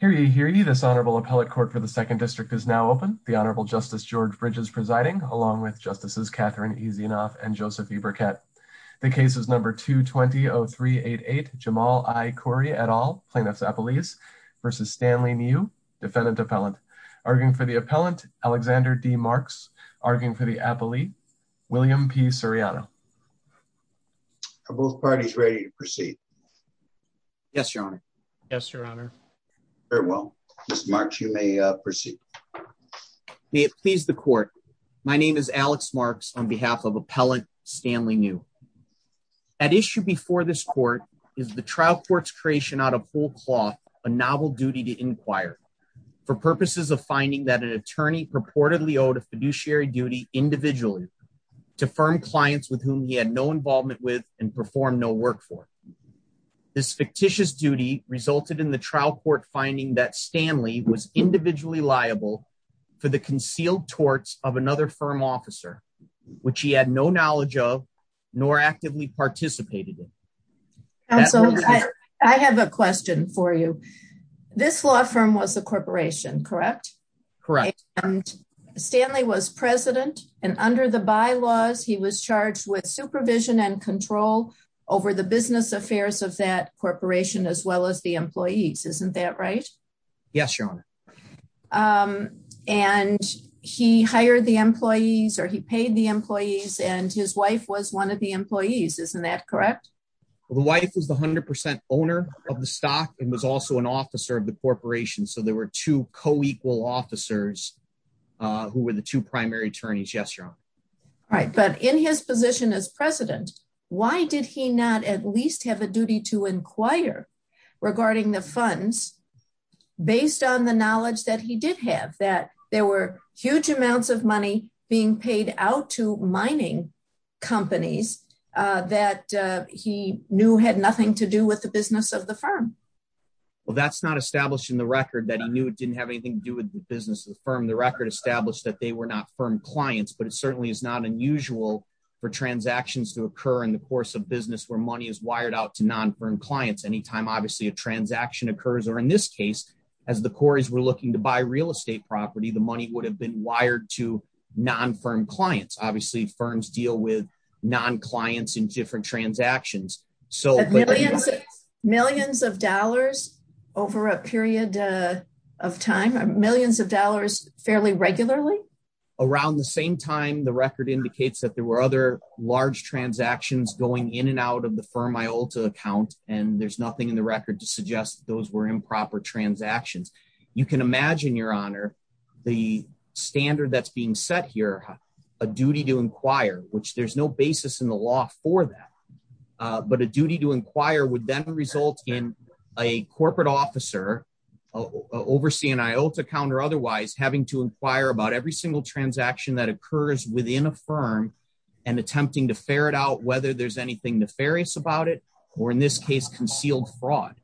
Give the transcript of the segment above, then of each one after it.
. This honorable appellate court for the second district is now open. The honorable justice George Bridge is presiding along with justices Catherine Easenoff and Joseph E. Burkett. The case is number 220388, Jamal I. Khoury et al., plaintiffs' appellees, versus Stanley Niew, defendant appellant. I would like to start by acknowledging the defendant. The defendant's name is Alexander D. Niew, arguing for the appellant, Alexander D. Marks, arguing for the appellee, William P. Ceriano. Are both parties ready to proceed? Yes, your honor. Very well, Ms. Marks, you may proceed. May it please the court. My name is Alex Marks on behalf of appellant Stanley Niew. At issue before this court is the trial court's creation out of whole cloth, a novel duty to inquire for purposes of finding that an attorney purportedly owed a fiduciary duty individually to firm clients with whom he had no involvement with and perform no work for. This fictitious duty resulted in the trial court finding that Stanley was individually liable for the concealed torts of another firm officer, which he had no knowledge of, nor actively participated in. Counsel, I have a question for you. This law firm was a corporation, correct? Correct. And Stanley was president, and under the bylaws, he was charged with supervision and control over the business affairs of that corporation as well as the employees, isn't that right? Yes, your honor. And he hired the employees or he paid the employees and his wife was one of the employees, isn't that correct? The wife was the 100% owner of the stock and was also an officer of the corporation. So there were two co-equal officers who were the two primary attorneys. Yes, your honor. Right, but in his position as president, why did he not at least have a duty to inquire regarding the funds based on the knowledge that he did have that there were huge amounts of money being paid out to mining companies that he knew had nothing to do with the business of the firm? Well, that's not established in the record that he knew it didn't have anything to do with the business of the firm. The record established that they were not firm clients, but it certainly is not unusual for transactions to occur in the course of business where money is wired out to non-firm clients. Anytime, obviously, a transaction occurs, or in this case, as the Corys were looking to buy real estate property, the money would have been wired to non-firm clients. Obviously, firms deal with non-clients in different transactions. Millions of dollars over a period of time? Millions of dollars fairly regularly? Around the same time, the record indicates that there were other large transactions going in and out of the firm Iolta account, and there's nothing in the record to suggest those were improper transactions. You can imagine, Your Honor, the standard that's being set here, a duty to inquire, which there's no basis in the law for that. But a duty to inquire would then result in a corporate officer overseeing an Iolta account or otherwise having to inquire about every single transaction that occurs within a firm and attempting to ferret out whether there's anything nefarious about it, or in this case, concealed fraud.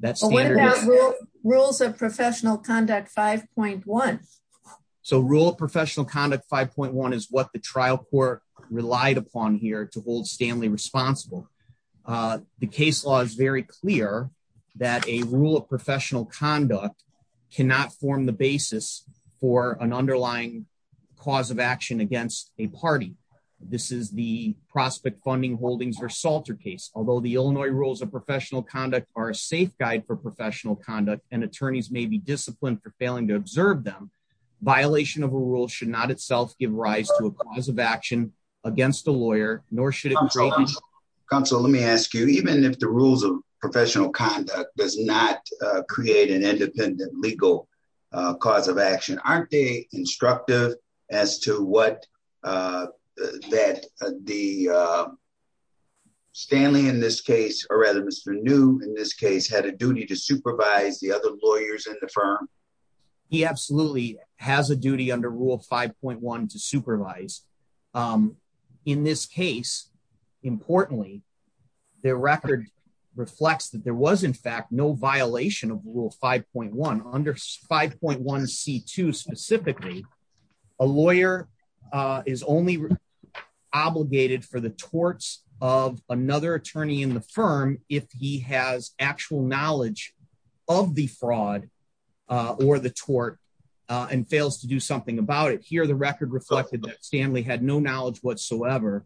What about Rules of Professional Conduct 5.1? Rule of Professional Conduct 5.1 is what the trial court relied upon here to hold Stanley responsible. The case law is very clear that a Rule of Professional Conduct cannot form the basis for an underlying cause of action against a party. This is the Prospect Funding Holdings v. Salter case. Although the Illinois Rules of Professional Conduct are a safe guide for professional conduct, and attorneys may be disciplined for failing to observe them, violation of a rule should not itself give rise to a cause of action against a lawyer, nor should it... Counsel, let me ask you, even if the Rules of Professional Conduct does not create an independent legal cause of action, aren't they instructive as to what the... Stanley in this case, or rather Mr. New in this case, had a duty to supervise the other lawyers in the firm? He absolutely has a duty under Rule 5.1 to supervise. In this case, importantly, the record reflects that there was in fact no violation of Rule 5.1. Under 5.1c2 specifically, a lawyer is only obligated for the torts of another attorney in the firm if he has actual knowledge of the fraud or the tort and fails to do something about it. Here, the record reflected that Stanley had no knowledge whatsoever.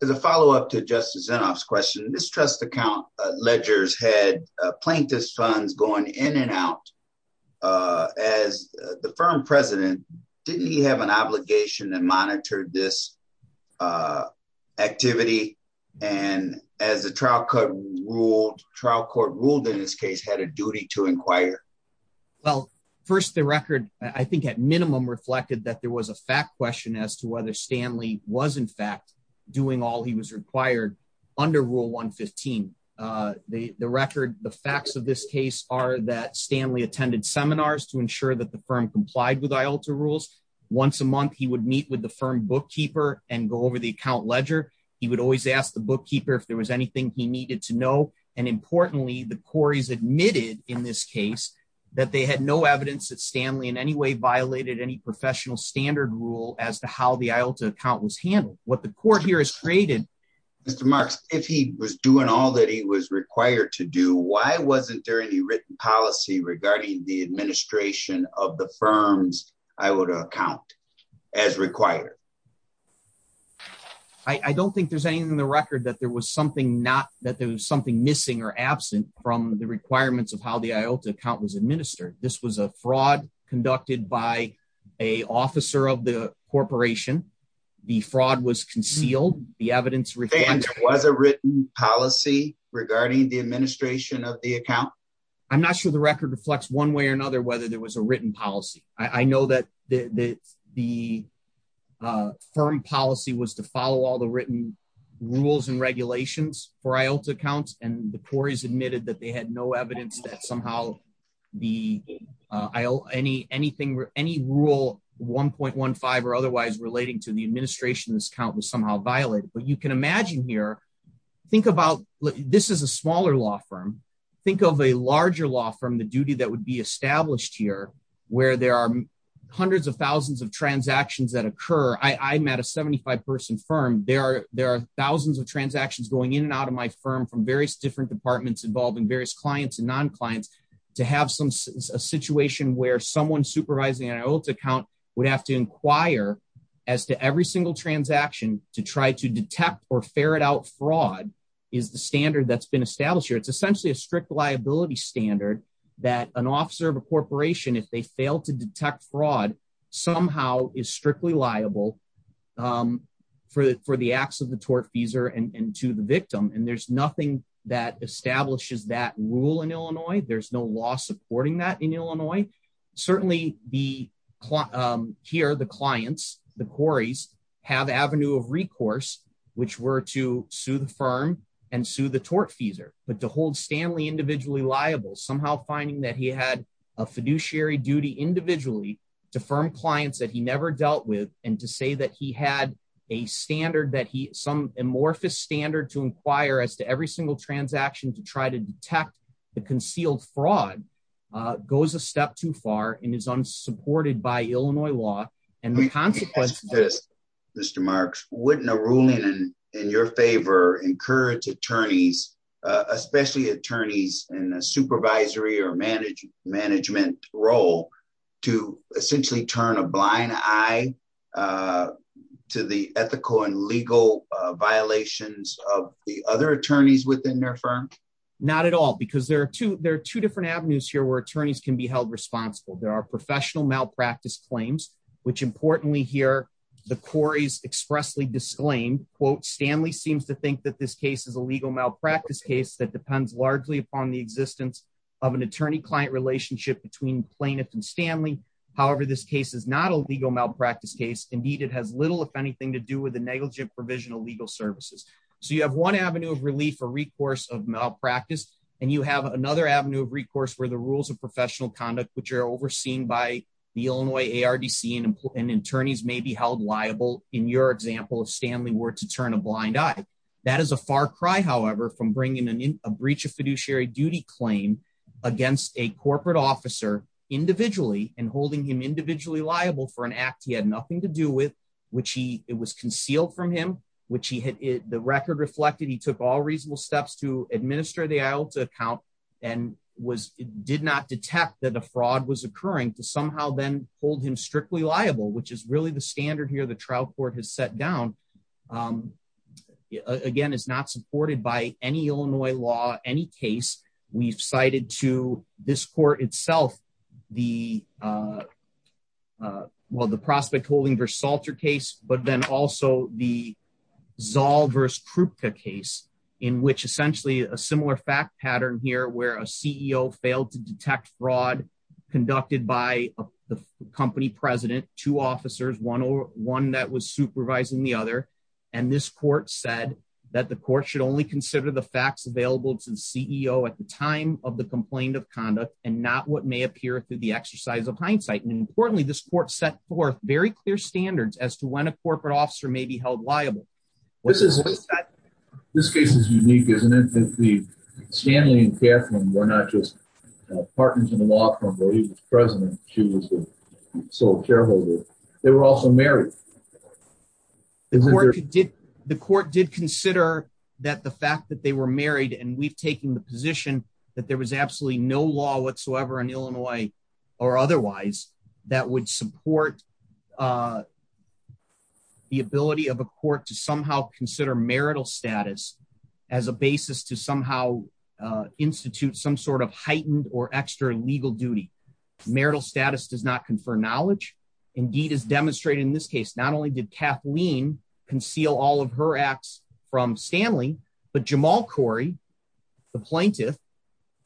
As a follow-up to Justice Zinoff's question, this trust account ledgers had plaintiff's funds going in and out. As the firm president, didn't he have an obligation and monitored this activity? And as the trial court ruled in this case, had a duty to inquire? Well, first, the record, I think at minimum reflected that there was a fact question as to whether Stanley was in fact doing all he was required under Rule 115. The record, the facts of this case are that Stanley attended seminars to ensure that the firm complied with IALTA rules. Once a month, he would meet with the firm bookkeeper and go over the account ledger. He would always ask the bookkeeper if there was anything he needed to know. And importantly, the quarries admitted in this case that they had no evidence that Stanley in any way violated any professional standard rule as to how the IALTA account was handled. What the court here has created... Mr. Marks, if he was doing all that he was required to do, why wasn't there any written policy regarding the administration of the firm's IALTA account as required? I don't think there's anything in the record that there was something missing or absent from the requirements of how the IALTA account was administered. This was a fraud conducted by an officer of the corporation. The fraud was concealed. The evidence... And there was a written policy regarding the administration of the account? I'm not sure the record reflects one way or another whether there was a written policy. I know that the firm policy was to follow all the written rules and regulations for IALTA accounts, and the quarries admitted that they had no evidence that somehow any rule 1.15 or otherwise relating to the administration of this account was somehow violated. But you can imagine here, think about... This is a smaller law firm. Think of a larger law firm, the duty that would be established here, where there are hundreds of thousands of transactions that occur. I'm at a 75-person firm. There are thousands of transactions going in and out of my firm from various different departments involving various clients and non-clients. To have a situation where someone supervising an IALTA account would have to inquire as to every single transaction to try to detect or ferret out fraud is the standard that's been established here. It's essentially a strict liability standard that an officer of a corporation, if they fail to detect fraud, somehow is strictly liable for the acts of the tortfeasor and to the victim. And there's nothing that establishes that rule in Illinois. There's no law supporting that in Illinois. Certainly, here, the clients, the quarries, have avenue of recourse, which were to sue the firm and sue the tortfeasor, but to hold Stanley individually liable, somehow finding that he had a fiduciary duty individually to firm clients that he never dealt with and to say that he had some amorphous standard to inquire as to every single transaction to try to detect the concealed fraud goes a step too far and is unsupported by Illinois law. Mr. Marks, wouldn't a ruling in your favor encourage attorneys, especially attorneys in a supervisory or management role, to essentially turn a blind eye to the ethical and legal violations of the other attorneys within their firm? Not at all, because there are two different avenues here where attorneys can be held responsible. There are professional malpractice claims, which importantly here, the quarries expressly disclaim, quote, Stanley seems to think that this case is a legal malpractice case that depends largely upon the existence of an attorney-client relationship between plaintiff and Stanley. However, this case is not a legal malpractice case. Indeed, it has little, if anything, to do with the negligent provision of legal services. So you have one avenue of relief or recourse of malpractice, and you have another avenue of recourse where the rules of professional conduct, which are overseen by the Illinois ARDC and attorneys may be held liable, in your example, if Stanley were to turn a blind eye. That is a far cry, however, from bringing in a breach of fiduciary duty claim against a corporate officer individually and holding him individually liable for an act he had nothing to do with, which he, it was concealed from him, which he had, the record reflected he took all reasonable steps to administer the IOTA account and was, did not detect that a fraud was occurring to somehow then hold him strictly liable, which is really the standard here the trial court has set down. Again, it's not supported by any Illinois law, any case. We've cited to this court itself, the, well, the Prospect-Holding v. Salter case, but then also the Zoll v. Krupka case, in which essentially a similar fact pattern here where a CEO failed to detect fraud conducted by the company president, two officers, one that was supervising the other, and this court said that the court should only consider the facts available to the CEO at the time of the complaint of conduct and not what may appear through the exercise of hindsight. And importantly, this court set forth very clear standards as to when a corporate officer may be held liable. This case is unique, isn't it? Stanley and Catherine were not just partners in the law firm where he was president, she was the sole shareholder. They were also married. The court did consider that the fact that they were married and we've taken the position that there was absolutely no law whatsoever in Illinois or otherwise that would support the ability of a court to somehow consider marital status as a basis to somehow institute some sort of heightened or extra legal duty. Marital status does not confer knowledge. Indeed, as demonstrated in this case, not only did Kathleen conceal all of her acts from Stanley, but Jamal Corey, the plaintiff,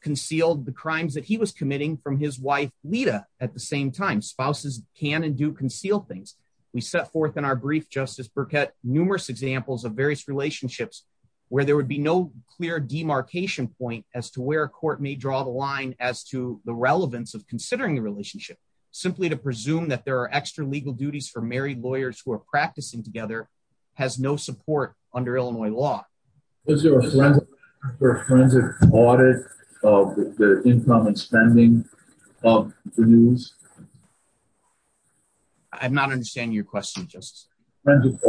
concealed the crimes that he was committing from his wife, Lita, at the same time. Spouses can and do conceal things. We set forth in our brief, Justice Burkett, numerous examples of various relationships where there would be no clear demarcation point as to where a court may draw the line as to the relevance of considering the relationship. Simply to presume that there are extra legal duties for married lawyers who are practicing together has no support under Illinois law. Was there a forensic audit of the income and spending of the news? I'm not understanding your question, Justice. Forensic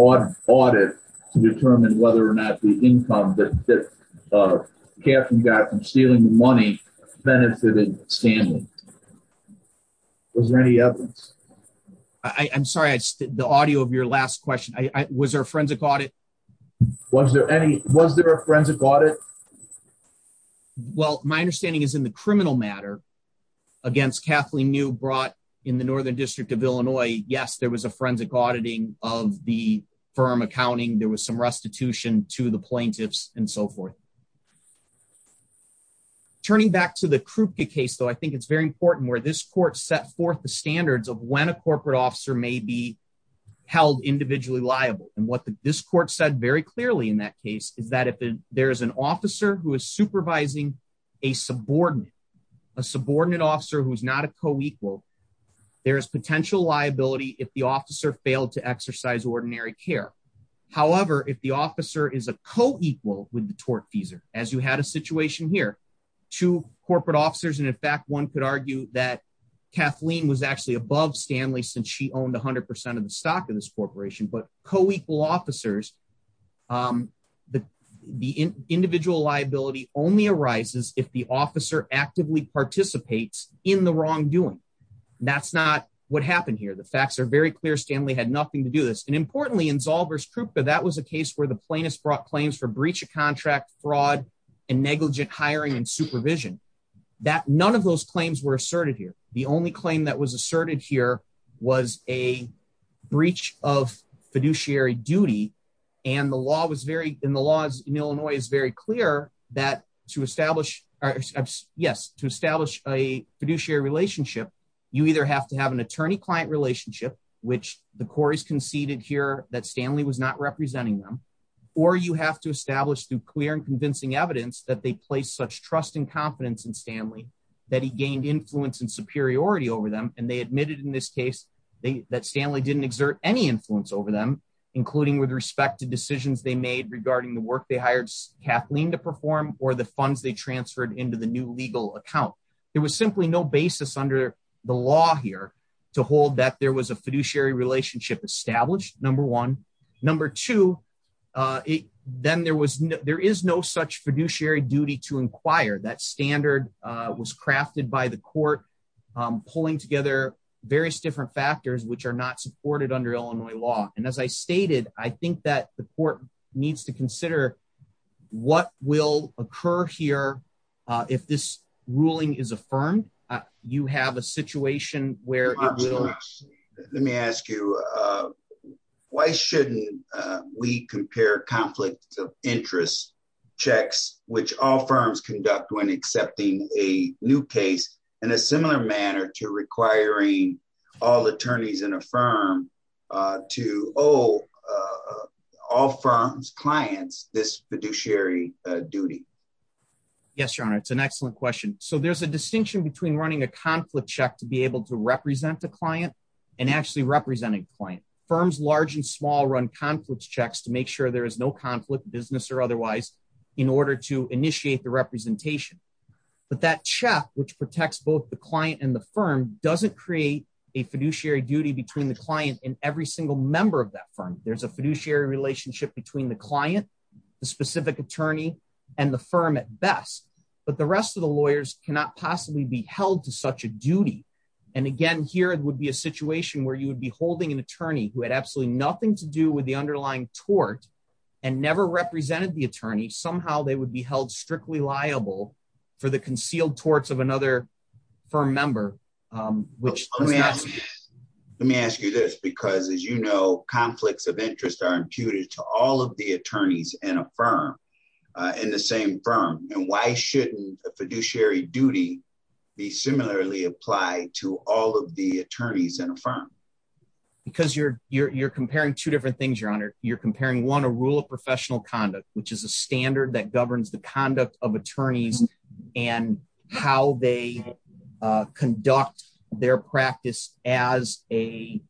audit to determine whether or not the income that Kathleen got from stealing the money benefited Stanley. Was there any evidence? I'm sorry, the audio of your last question. Was there a forensic audit? Was there a forensic audit? Well, my understanding is in the criminal matter against Kathleen New brought in the Northern District of Illinois. Yes, there was a forensic auditing of the firm accounting. There was some restitution to the plaintiffs and so forth. Turning back to the Krupke case, though, I think it's very important where this court set forth the standards of when a corporate officer may be held individually liable. And what this court said very clearly in that case is that if there is an officer who is supervising a subordinate, a subordinate officer who is not a co-equal, there is potential liability if the officer failed to exercise ordinary care. However, if the officer is a co-equal with the tortfeasor, as you had a situation here, two corporate officers, and in fact, one could argue that Kathleen was actually above Stanley since she owned 100% of the stock of this corporation. But co-equal officers, the individual liability only arises if the officer actively participates in the wrongdoing. That's not what happened here. The facts are very clear. Stanley had nothing to do this. And importantly, in Zalver's Krupke, that was a case where the plaintiffs brought claims for breach of contract, fraud, and negligent hiring and supervision. None of those claims were asserted here. The only claim that was asserted here was a breach of fiduciary duty. And the law in Illinois is very clear that to establish a fiduciary relationship, you either have to have an attorney-client relationship, which the Corey's conceded here that Stanley was not representing them, or you have to establish through clear and convincing evidence that they placed such trust and confidence in Stanley that he gained influence and superiority over them. And they admitted in this case that Stanley didn't exert any influence over them, including with respect to decisions they made regarding the work they hired Kathleen to perform or the funds they transferred into the new legal account. There was simply no basis under the law here to hold that there was a fiduciary relationship established, number one. Number two, there is no such fiduciary duty to inquire. That standard was crafted by the court, pulling together various different factors which are not supported under Illinois law. And as I stated, I think that the court needs to consider what will occur here if this ruling is affirmed. You have a situation where it will... in a similar manner to requiring all attorneys in a firm to owe all firms' clients this fiduciary duty. Yes, Your Honor, it's an excellent question. So there's a distinction between running a conflict check to be able to represent the client and actually representing the client. Firms, large and small, run conflict checks to make sure there is no conflict, business or otherwise, in order to initiate the representation. But that check, which protects both the client and the firm, doesn't create a fiduciary duty between the client and every single member of that firm. There's a fiduciary relationship between the client, the specific attorney, and the firm at best. But the rest of the lawyers cannot possibly be held to such a duty. And again, here it would be a situation where you would be holding an attorney who had absolutely nothing to do with the underlying tort and never represented the attorney. Somehow they would be held strictly liable for the concealed torts of another firm member, which... I ask you this because, as you know, conflicts of interest are imputed to all of the attorneys in a firm, in the same firm. And why shouldn't a fiduciary duty be similarly applied to all of the attorneys in a firm? Because you're comparing two different things, Your Honor. You're comparing, one, a rule of professional conduct, which is a standard that governs the conduct of attorneys and how they conduct their practice as an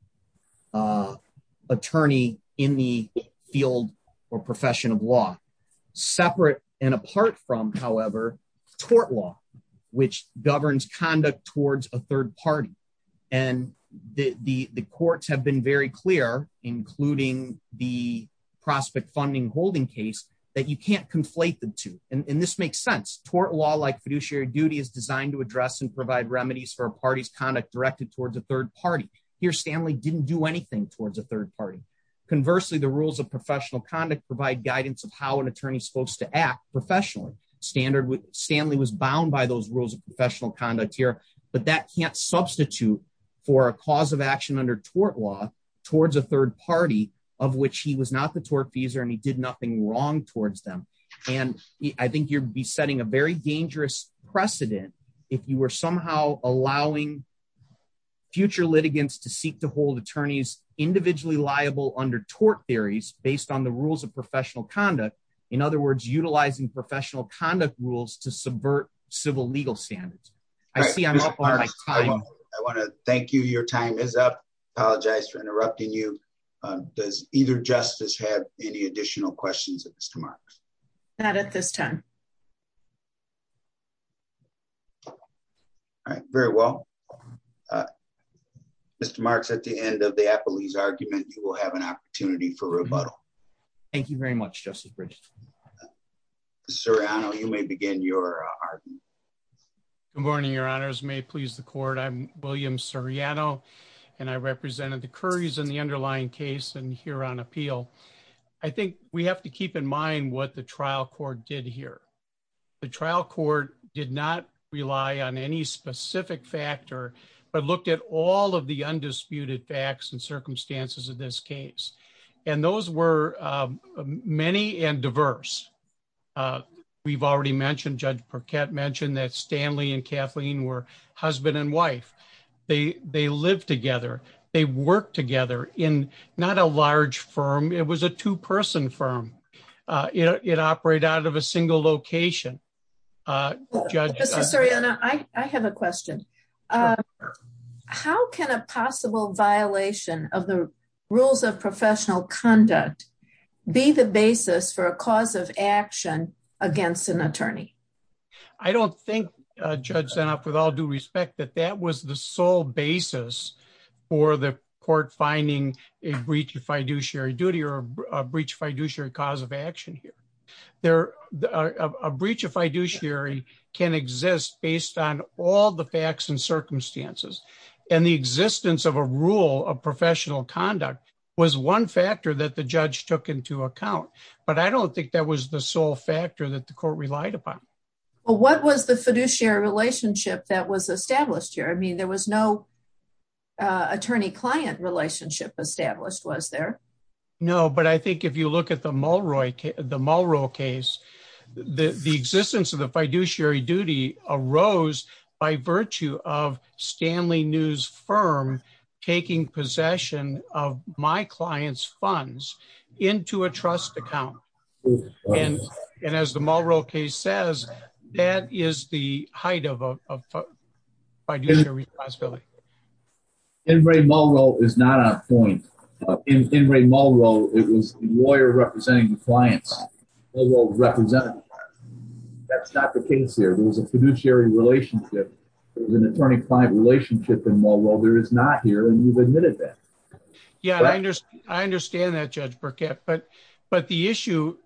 attorney in the field or profession of law. Separate and apart from, however, tort law, which governs conduct towards a third party. And the courts have been very clear, including the prospect funding holding case, that you can't conflate the two. And this makes sense. Tort law, like fiduciary duty, is designed to address and provide remedies for a party's conduct directed towards a third party. Here, Stanley didn't do anything towards a third party. Conversely, the rules of professional conduct provide guidance of how an attorney is supposed to act professionally. Stanley was bound by those rules of professional conduct here. But that can't substitute for a cause of action under tort law towards a third party, of which he was not the tortfeasor and he did nothing wrong towards them. And I think you'd be setting a very dangerous precedent if you were somehow allowing future litigants to seek to hold attorneys individually liable under tort theories based on the rules of professional conduct. In other words, utilizing professional conduct rules to subvert civil legal standards. I see I'm up on my time. I want to thank you. Your time is up. Apologize for interrupting you. Does either justice have any additional questions, Mr. Marks? Not at this time. All right, very well. Mr. Marks, at the end of the appellee's argument, you will have an opportunity for rebuttal. Thank you very much, Justice Bridges. Mr. Reano, you may begin your argument. Good morning, Your Honors. May it please the court. I'm William Seriano, and I represented the Currys in the underlying case and here on appeal. I think we have to keep in mind what the trial court did here. The trial court did not rely on any specific factor, but looked at all of the undisputed facts and circumstances of this case. And those were many and diverse. We've already mentioned, Judge Parkett mentioned that Stanley and Kathleen were husband and wife. They live together. They work together in not a large firm. It was a two person firm. It operate out of a single location. Mr. Seriano, I have a question. How can a possible violation of the rules of professional conduct be the basis for a cause of action against an attorney? I don't think, Judge Sennoff, with all due respect, that that was the sole basis for the court finding a breach of fiduciary duty or a breach of fiduciary cause of action here. A breach of fiduciary can exist based on all the facts and circumstances. And the existence of a rule of professional conduct was one factor that the judge took into account. But I don't think that was the sole factor that the court relied upon. What was the fiduciary relationship that was established here? I mean, there was no attorney-client relationship established, was there? No, but I think if you look at the Mulroy case, the existence of the fiduciary duty arose by virtue of Stanley News firm taking possession of my client's funds into a trust account. And as the Mulroy case says, that is the height of fiduciary responsibility. Ingray Mulroy is not on point. Ingray Mulroy, it was the lawyer representing the clients. Mulroy was representative. That's not the case here. There was a fiduciary relationship. There was an attorney-client relationship in Mulroy. There is not here, and you've admitted that. Yeah, I understand that, Judge Burkett. But the issue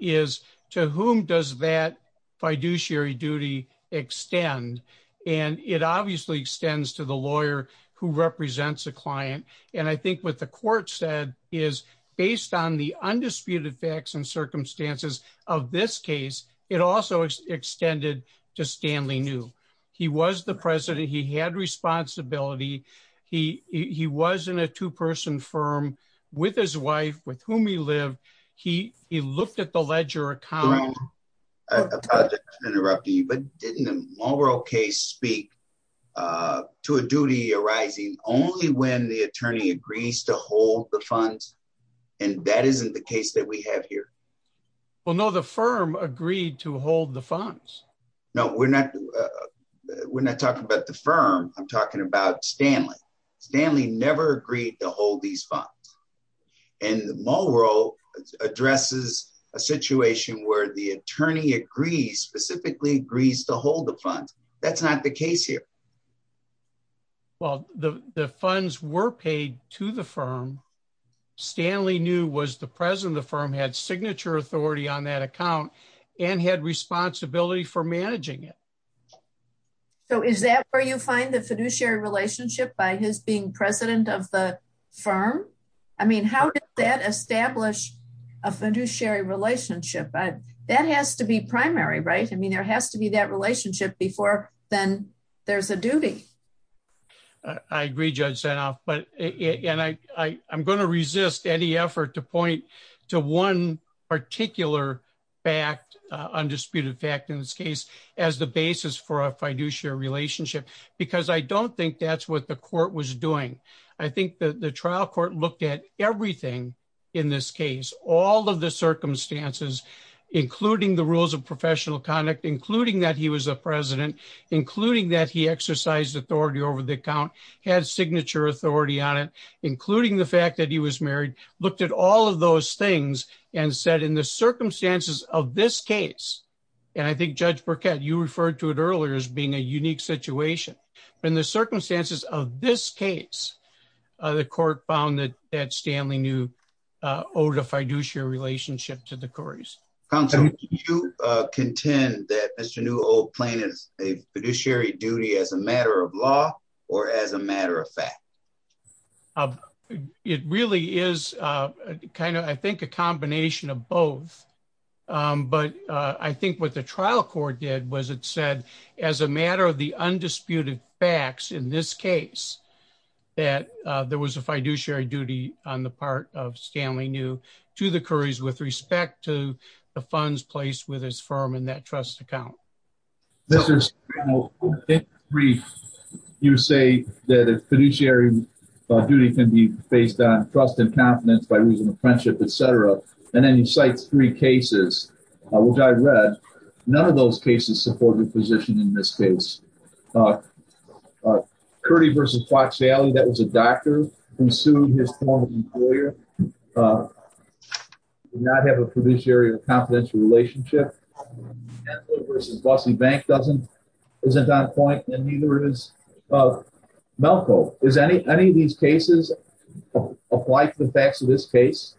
is to whom does that fiduciary duty extend? And it obviously extends to the lawyer who represents a client. And I think what the court said is based on the undisputed facts and circumstances of this case, it also extended to Stanley New. He was the president. He had responsibility. He was in a two-person firm with his wife, with whom he lived. He looked at the ledger account. I apologize for interrupting you, but didn't the Mulroy case speak to a duty arising only when the attorney agrees to hold the funds? And that isn't the case that we have here. Well, no, the firm agreed to hold the funds. No, we're not talking about the firm. I'm talking about Stanley. Stanley never agreed to hold these funds. And Mulroy addresses a situation where the attorney agrees, specifically agrees to hold the funds. That's not the case here. Well, the funds were paid to the firm. Stanley New was the president of the firm, had signature authority on that account, and had responsibility for managing it. So is that where you find the fiduciary relationship by his being president of the firm? I mean, how did that establish a fiduciary relationship? That has to be primary, right? I mean, there has to be that relationship before then there's a duty. I agree, Judge Sanoff. And I'm going to resist any effort to point to one particular fact, undisputed fact in this case, as the basis for a fiduciary relationship, because I don't think that's what the court was doing. I think the trial court looked at everything in this case, all of the circumstances, including the rules of professional conduct, including that he was a president, including that he exercised authority over the account, had signature authority on it, including the fact that he was married, looked at all of those things and said in the circumstances of this case. And I think Judge Burkett, you referred to it earlier as being a unique situation. In the circumstances of this case, the court found that Stanley New owed a fiduciary relationship to the Corys. Counsel, do you contend that Mr. New owed plaintiffs a fiduciary duty as a matter of law or as a matter of fact? It really is kind of, I think, a combination of both. But I think what the trial court did was it said as a matter of the undisputed facts in this case that there was a fiduciary duty on the part of Stanley New to the Corys with respect to the funds placed with his firm in that trust account. In brief, you say that a fiduciary duty can be based on trust and confidence by reason of friendship, etc. And then you cite three cases, which I read. None of those cases support your position in this case. Curdie v. Fox Valley, that was a doctor who sued his former employer. Did not have a fiduciary or confidential relationship. Bentley v. Bussey Bank isn't on point and neither is Melco. Does any of these cases apply to the facts of this case?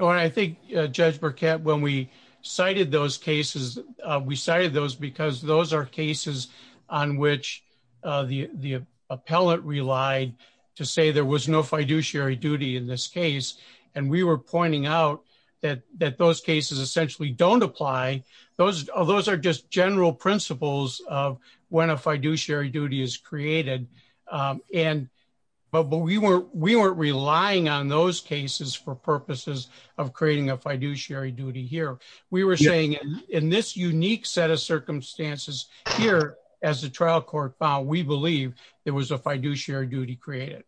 I think Judge Burkett, when we cited those cases, we cited those because those are cases on which the appellate relied to say there was no fiduciary duty in this case. And we were pointing out that those cases essentially don't apply. Those are just general principles of when a fiduciary duty is created. But we weren't relying on those cases for purposes of creating a fiduciary duty here. We were saying in this unique set of circumstances here, as the trial court found, we believe there was a fiduciary duty created.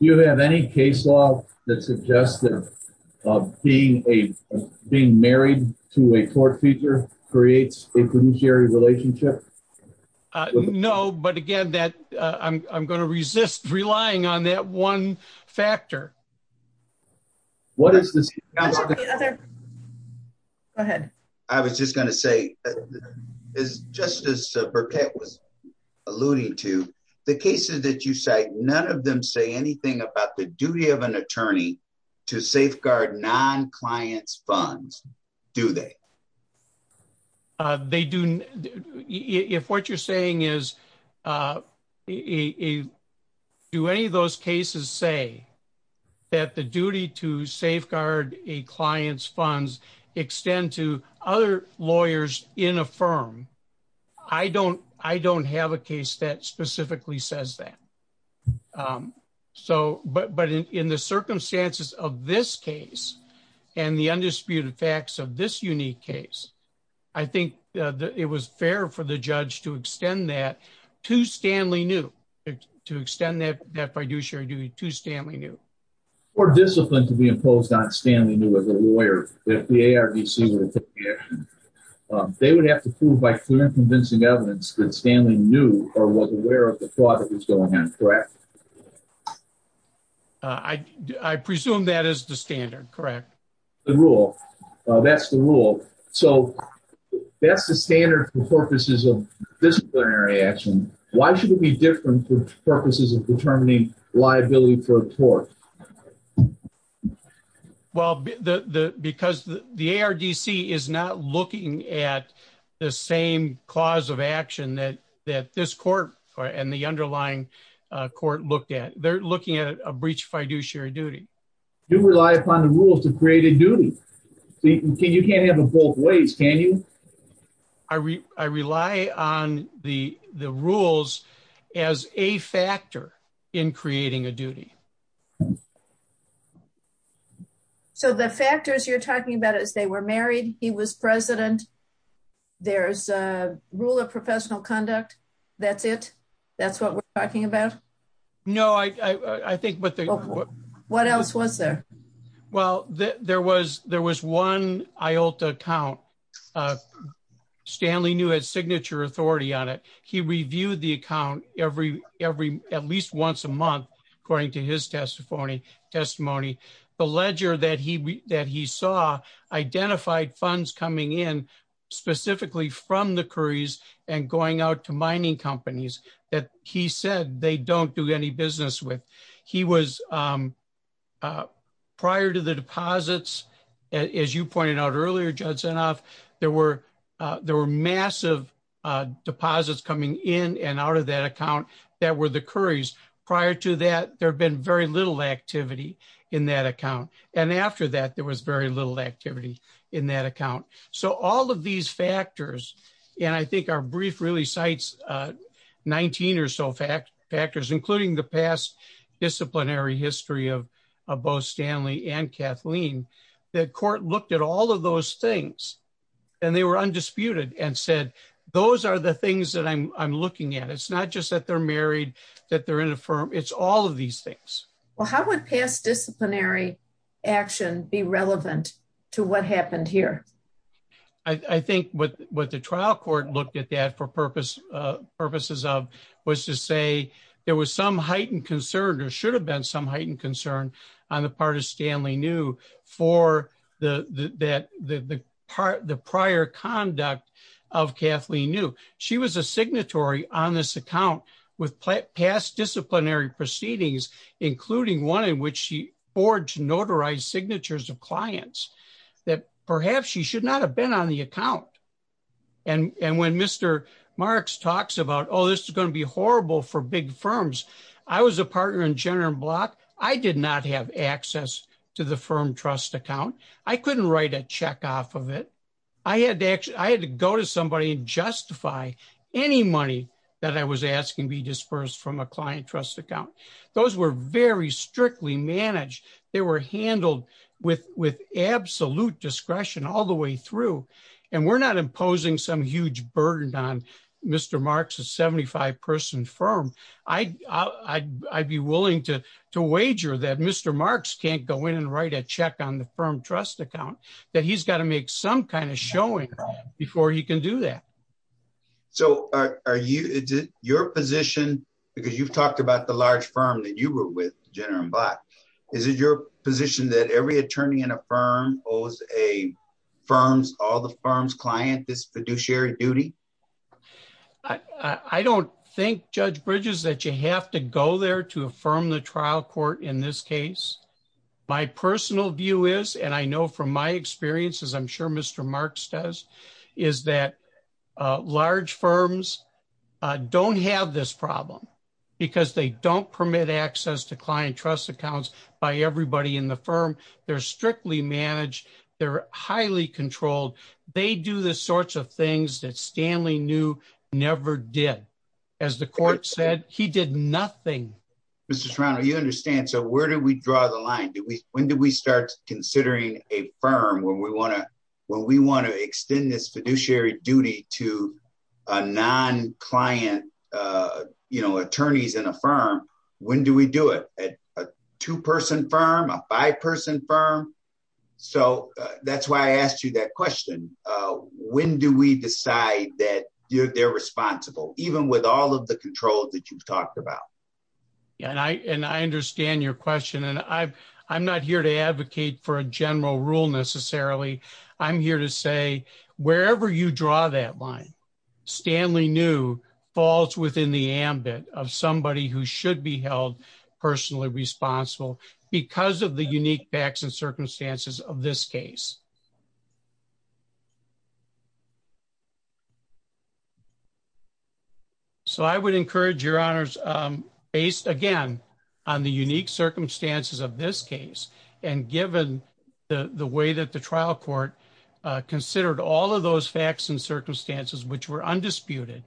Do you have any case law that suggests that being married to a court feature creates a fiduciary relationship? No, but again, I'm going to resist relying on that one factor. Go ahead. I was just going to say, as Justice Burkett was alluding to, the cases that you cite, none of them say anything about the duty of an attorney to safeguard non-client's funds, do they? If what you're saying is, do any of those cases say that the duty to safeguard a client's funds extend to other lawyers in a firm? I don't have a case that specifically says that. But in the circumstances of this case and the undisputed facts of this unique case, I think it was fair for the judge to extend that fiduciary duty to Stanley New. For discipline to be imposed on Stanley New as a lawyer, if the ARDC were to take the action, they would have to prove by clear and convincing evidence that Stanley New was aware of the fraud that was going on, correct? I presume that is the standard, correct? That's the rule. So that's the standard for purposes of disciplinary action. Why should it be different for purposes of determining liability for a court? Well, because the ARDC is not looking at the same cause of action that this court and the underlying court looked at. They're looking at a breach of fiduciary duty. You rely upon the rules to create a duty. You can't have them both ways, can you? I rely on the rules as a factor in creating a duty. So the factors you're talking about is they were married, he was president, there's a rule of professional conduct, that's it? That's what we're talking about? No, I think what they... What else was there? Well, there was one IOTA account. Stanley New had signature authority on it. He reviewed the account at least once a month, according to his testimony. The ledger that he saw identified funds coming in specifically from the Currys and going out to mining companies that he said they don't do any business with. He was prior to the deposits, as you pointed out earlier, there were massive deposits coming in and out of that account that were the Currys. Prior to that, there had been very little activity in that account. And after that, there was very little activity in that account. So all of these factors, and I think our brief really cites 19 or so factors, including the past disciplinary history of both Stanley and Kathleen, the court looked at all of those things. And they were undisputed and said, those are the things that I'm looking at. It's not just that they're married, that they're in a firm, it's all of these things. Well, how would past disciplinary action be relevant to what happened here? I think what the trial court looked at that for purposes of was to say there was some heightened concern or should have been some heightened concern on the part of Stanley New for the prior conduct of Kathleen New. She was a signatory on this account with past disciplinary proceedings, including one in which she forged notarized signatures of clients that perhaps she should not have been on the account. And when Mr. Marks talks about, oh, this is going to be horrible for big firms. I was a partner in General Block. I did not have access to the firm trust account. I couldn't write a check off of it. I had to go to somebody and justify any money that I was asking be dispersed from a client trust account. Those were very strictly managed. They were handled with absolute discretion all the way through. And we're not imposing some huge burden on Mr. Marks, a 75-person firm. I'd be willing to wager that Mr. Marks can't go in and write a check on the firm trust account, that he's got to make some kind of showing before he can do that. So, are you, is it your position, because you've talked about the large firm that you were with, General Block. Is it your position that every attorney in a firm owes a firm's, all the firm's client this fiduciary duty? I don't think, Judge Bridges, that you have to go there to affirm the trial court in this case. My personal view is, and I know from my experience, as I'm sure Mr. Marks does, is that large firms don't have this problem. Because they don't permit access to client trust accounts by everybody in the firm. They're strictly managed. They're highly controlled. They do the sorts of things that Stanley knew never did. As the court said, he did nothing. Mr. Serrano, you understand. So, where do we draw the line? When do we start considering a firm when we want to extend this fiduciary duty to a non-client, you know, attorneys in a firm? When do we do it? A two-person firm? A five-person firm? So, that's why I asked you that question. When do we decide that they're responsible, even with all of the control that you've talked about? And I understand your question. And I'm not here to advocate for a general rule, necessarily. I'm here to say, wherever you draw that line, Stanley knew falls within the ambit of somebody who should be held personally responsible because of the unique facts and circumstances of this case. So, I would encourage, Your Honors, based, again, on the unique circumstances of this case, and given the way that the trial court considered all of those facts and circumstances, which were undisputed,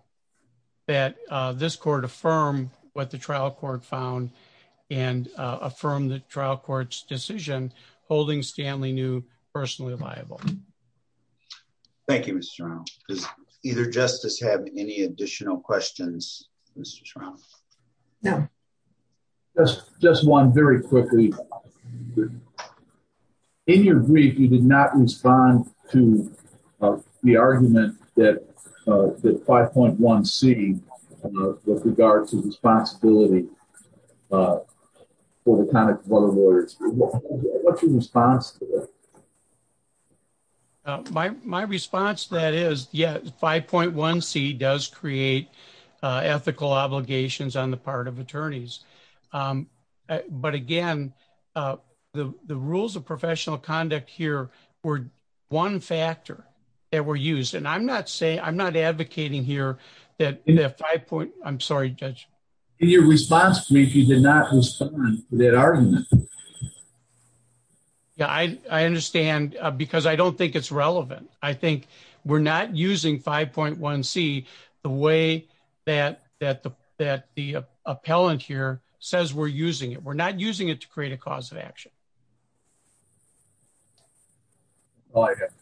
that this court affirm what the trial court found and affirm the trial court's decision, holding Stanley knew personally responsible. Thank you, Mr. Shrown. Does either justice have any additional questions, Mr. Shrown? No. Just one very quickly. In your brief, you did not respond to the argument that 5.1c, with regards to responsibility for the conduct of other lawyers. What's your response to that? My response to that is, yes, 5.1c does create ethical obligations on the part of attorneys. But, again, the rules of professional conduct here were one factor that were used. And I'm not advocating here that 5. I'm sorry, Judge. In your response to me, you did not respond to that argument. Yeah, I understand, because I don't think it's relevant. I think we're not using 5.1c the way that the appellant here says we're using it. We're not using it to create a cause of action.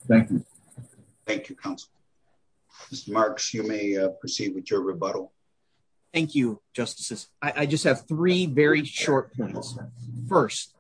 Thank you. Thank you, counsel. Mr. Marks, you may proceed with your rebuttal. Thank you, Justices. I just have three very short points. First,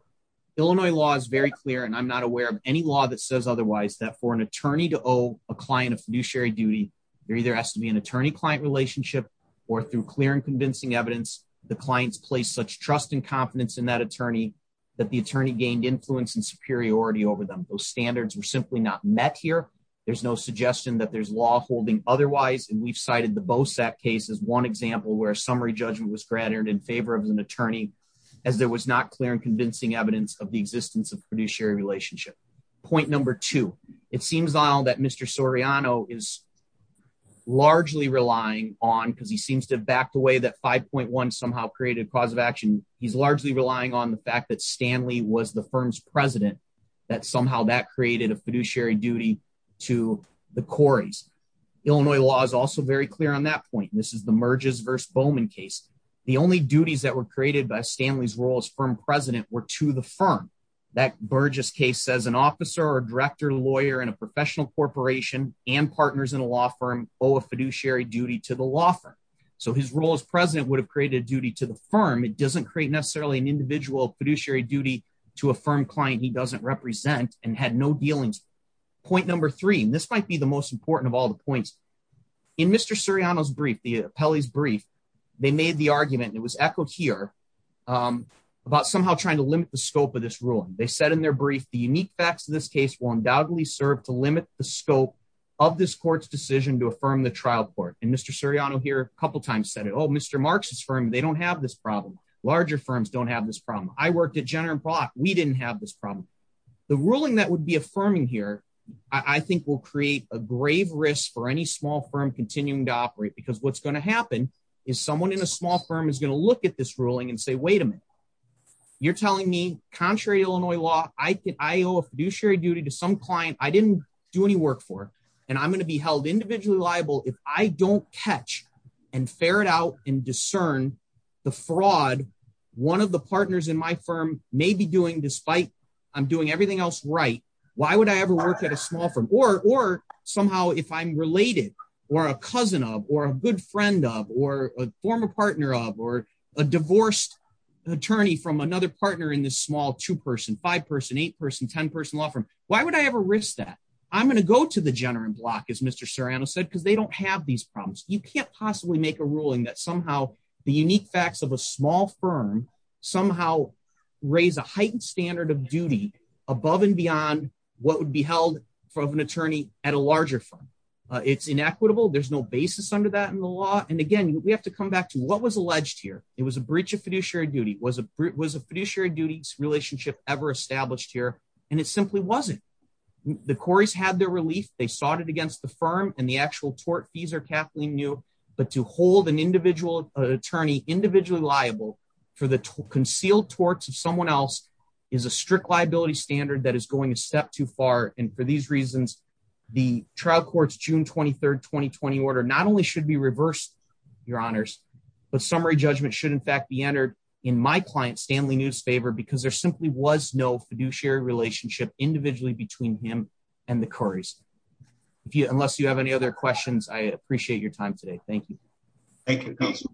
Illinois law is very clear, and I'm not aware of any law that says otherwise, that for an attorney to owe a client a fiduciary duty, there either has to be an attorney-client relationship, or through clear and convincing evidence, the client's placed such trust and confidence in that attorney that the attorney gained influence and superiority over them. Those standards were simply not met here. There's no suggestion that there's law holding otherwise, and we've cited the Bosak case as one example where a summary judgment was granted in favor of an attorney, as there was not clear and convincing evidence of the existence of fiduciary relationship. Point number two. It seems that Mr. Soriano is largely relying on, because he seems to have backed away that 5.1 somehow created a cause of action, he's largely relying on the fact that Stanley was the firm's president, that somehow that created a fiduciary duty to the Corys. Illinois law is also very clear on that point. This is the Merges v. Bowman case. The only duties that were created by Stanley's role as firm president were to the firm. That Burgess case says an officer or director, lawyer in a professional corporation and partners in a law firm owe a fiduciary duty to the law firm. So his role as president would have created a duty to the firm. It doesn't create necessarily an individual fiduciary duty to a firm client he doesn't represent and had no dealings with. Point number three. This might be the most important of all the points. In Mr. Soriano's brief, the appellee's brief, they made the argument, and it was echoed here, about somehow trying to limit the scope of this ruling. They said in their brief, the unique facts of this case will undoubtedly serve to limit the scope of this court's decision to affirm the trial court. And Mr. Soriano here a couple times said it. Oh, Mr. Marks' firm, they don't have this problem. Larger firms don't have this problem. I worked at Jenner & Brock. We didn't have this problem. The ruling that would be affirming here, I think, will create a grave risk for any small firm continuing to operate, because what's going to happen is someone in a small firm is going to look at this ruling and say, wait a minute. You're telling me, contrary to Illinois law, I owe a fiduciary duty to some client I didn't do any work for, and I'm going to be held individually liable if I don't catch and ferret out and discern the fraud one of the partners in my firm may be doing, despite I'm doing everything else right, why would I ever work at a small firm? Or somehow if I'm related or a cousin of or a good friend of or a former partner of or a divorced attorney from another partner in this small two-person, five-person, eight-person, 10-person law firm, why would I ever risk that? I'm going to go to the Jenner & Brock, as Mr. Soriano said, because they don't have these problems. You can't possibly make a ruling that somehow the unique facts of a small firm somehow raise a heightened standard of duty above and beyond what would be held of an attorney at a larger firm. It's inequitable. There's no basis under that in the law. And again, we have to come back to what was alleged here. It was a breach of fiduciary duty. Was a fiduciary duties relationship ever established here? And it simply wasn't. The Corey's had their relief. They sought it against the firm and the actual tort fees are Kathleen New. But to hold an individual attorney individually liable for the concealed torts of someone else is a strict liability standard that is going a step too far. And for these reasons, the trial court's June 23rd, 2020 order not only should be reversed, your honors, but summary judgment should in fact be entered in my client Stanley New's favor because there simply was no fiduciary relationship individually between him and the Corey's. Unless you have any other questions, I appreciate your time today. Thank you. Thank you, counsel.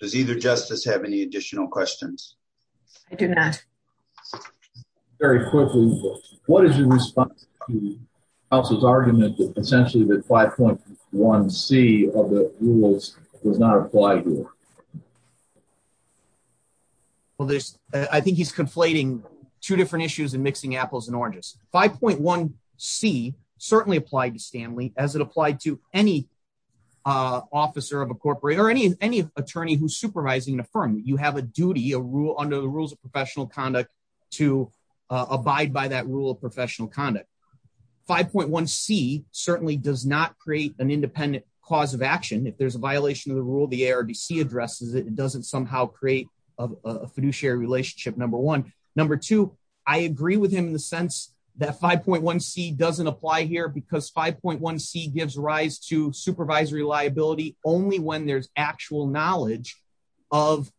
Does either justice have any additional questions? I do not. Very quickly, what is your response to the argument that essentially that 5.1c of the rules does not apply here? Well, there's I think he's conflating two different issues and mixing apples and oranges. 5.1c certainly applied to Stanley as it applied to any officer of a corporate or any any attorney who's supervising the firm. You have a duty, a rule under the rules of professional conduct to abide by that rule of professional conduct. 5.1c certainly does not create an independent cause of action. If there's a violation of the rule, the ARDC addresses it, it doesn't somehow create a fiduciary relationship, number one. Number two, I agree with him in the sense that 5.1c doesn't apply here because 5.1c gives rise to supervisory liability only when there's actual knowledge of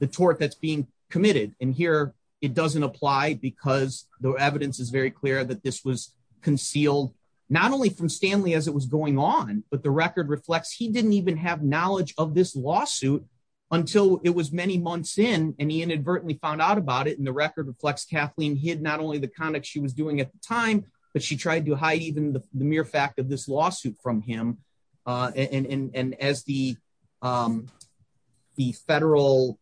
the tort that's being committed. And here it doesn't apply because the evidence is very clear that this was concealed not only from Stanley as it was going on, but the record reflects he didn't even have knowledge of this lawsuit until it was many months in and he inadvertently found out about it. And the record reflects Kathleen hid not only the conduct she was doing at the time, but she tried to hide even the mere fact of this lawsuit from him. And as the federal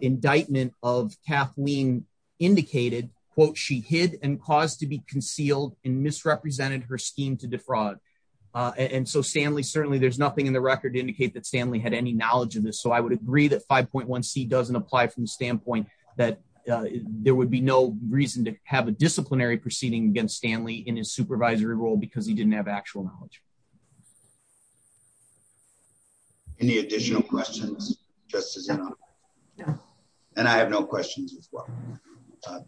indictment of Kathleen indicated, quote, she hid and caused to be concealed and misrepresented her scheme to defraud. And so Stanley, certainly there's nothing in the record to indicate that Stanley had any knowledge of this. So I would agree that 5.1c doesn't apply from the standpoint that there would be no reason to have a disciplinary proceeding against Stanley in his supervisory role because he didn't have actual knowledge. Any additional questions? And I have no questions as well.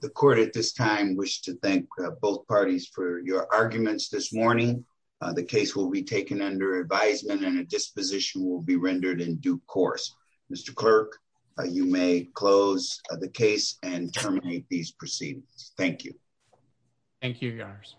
The court at this time wish to thank both parties for your arguments this morning. The case will be taken under advisement and a disposition will be rendered in due course. Mr. Clerk, you may close the case and terminate these proceedings. Thank you. Thank you, Your Honors.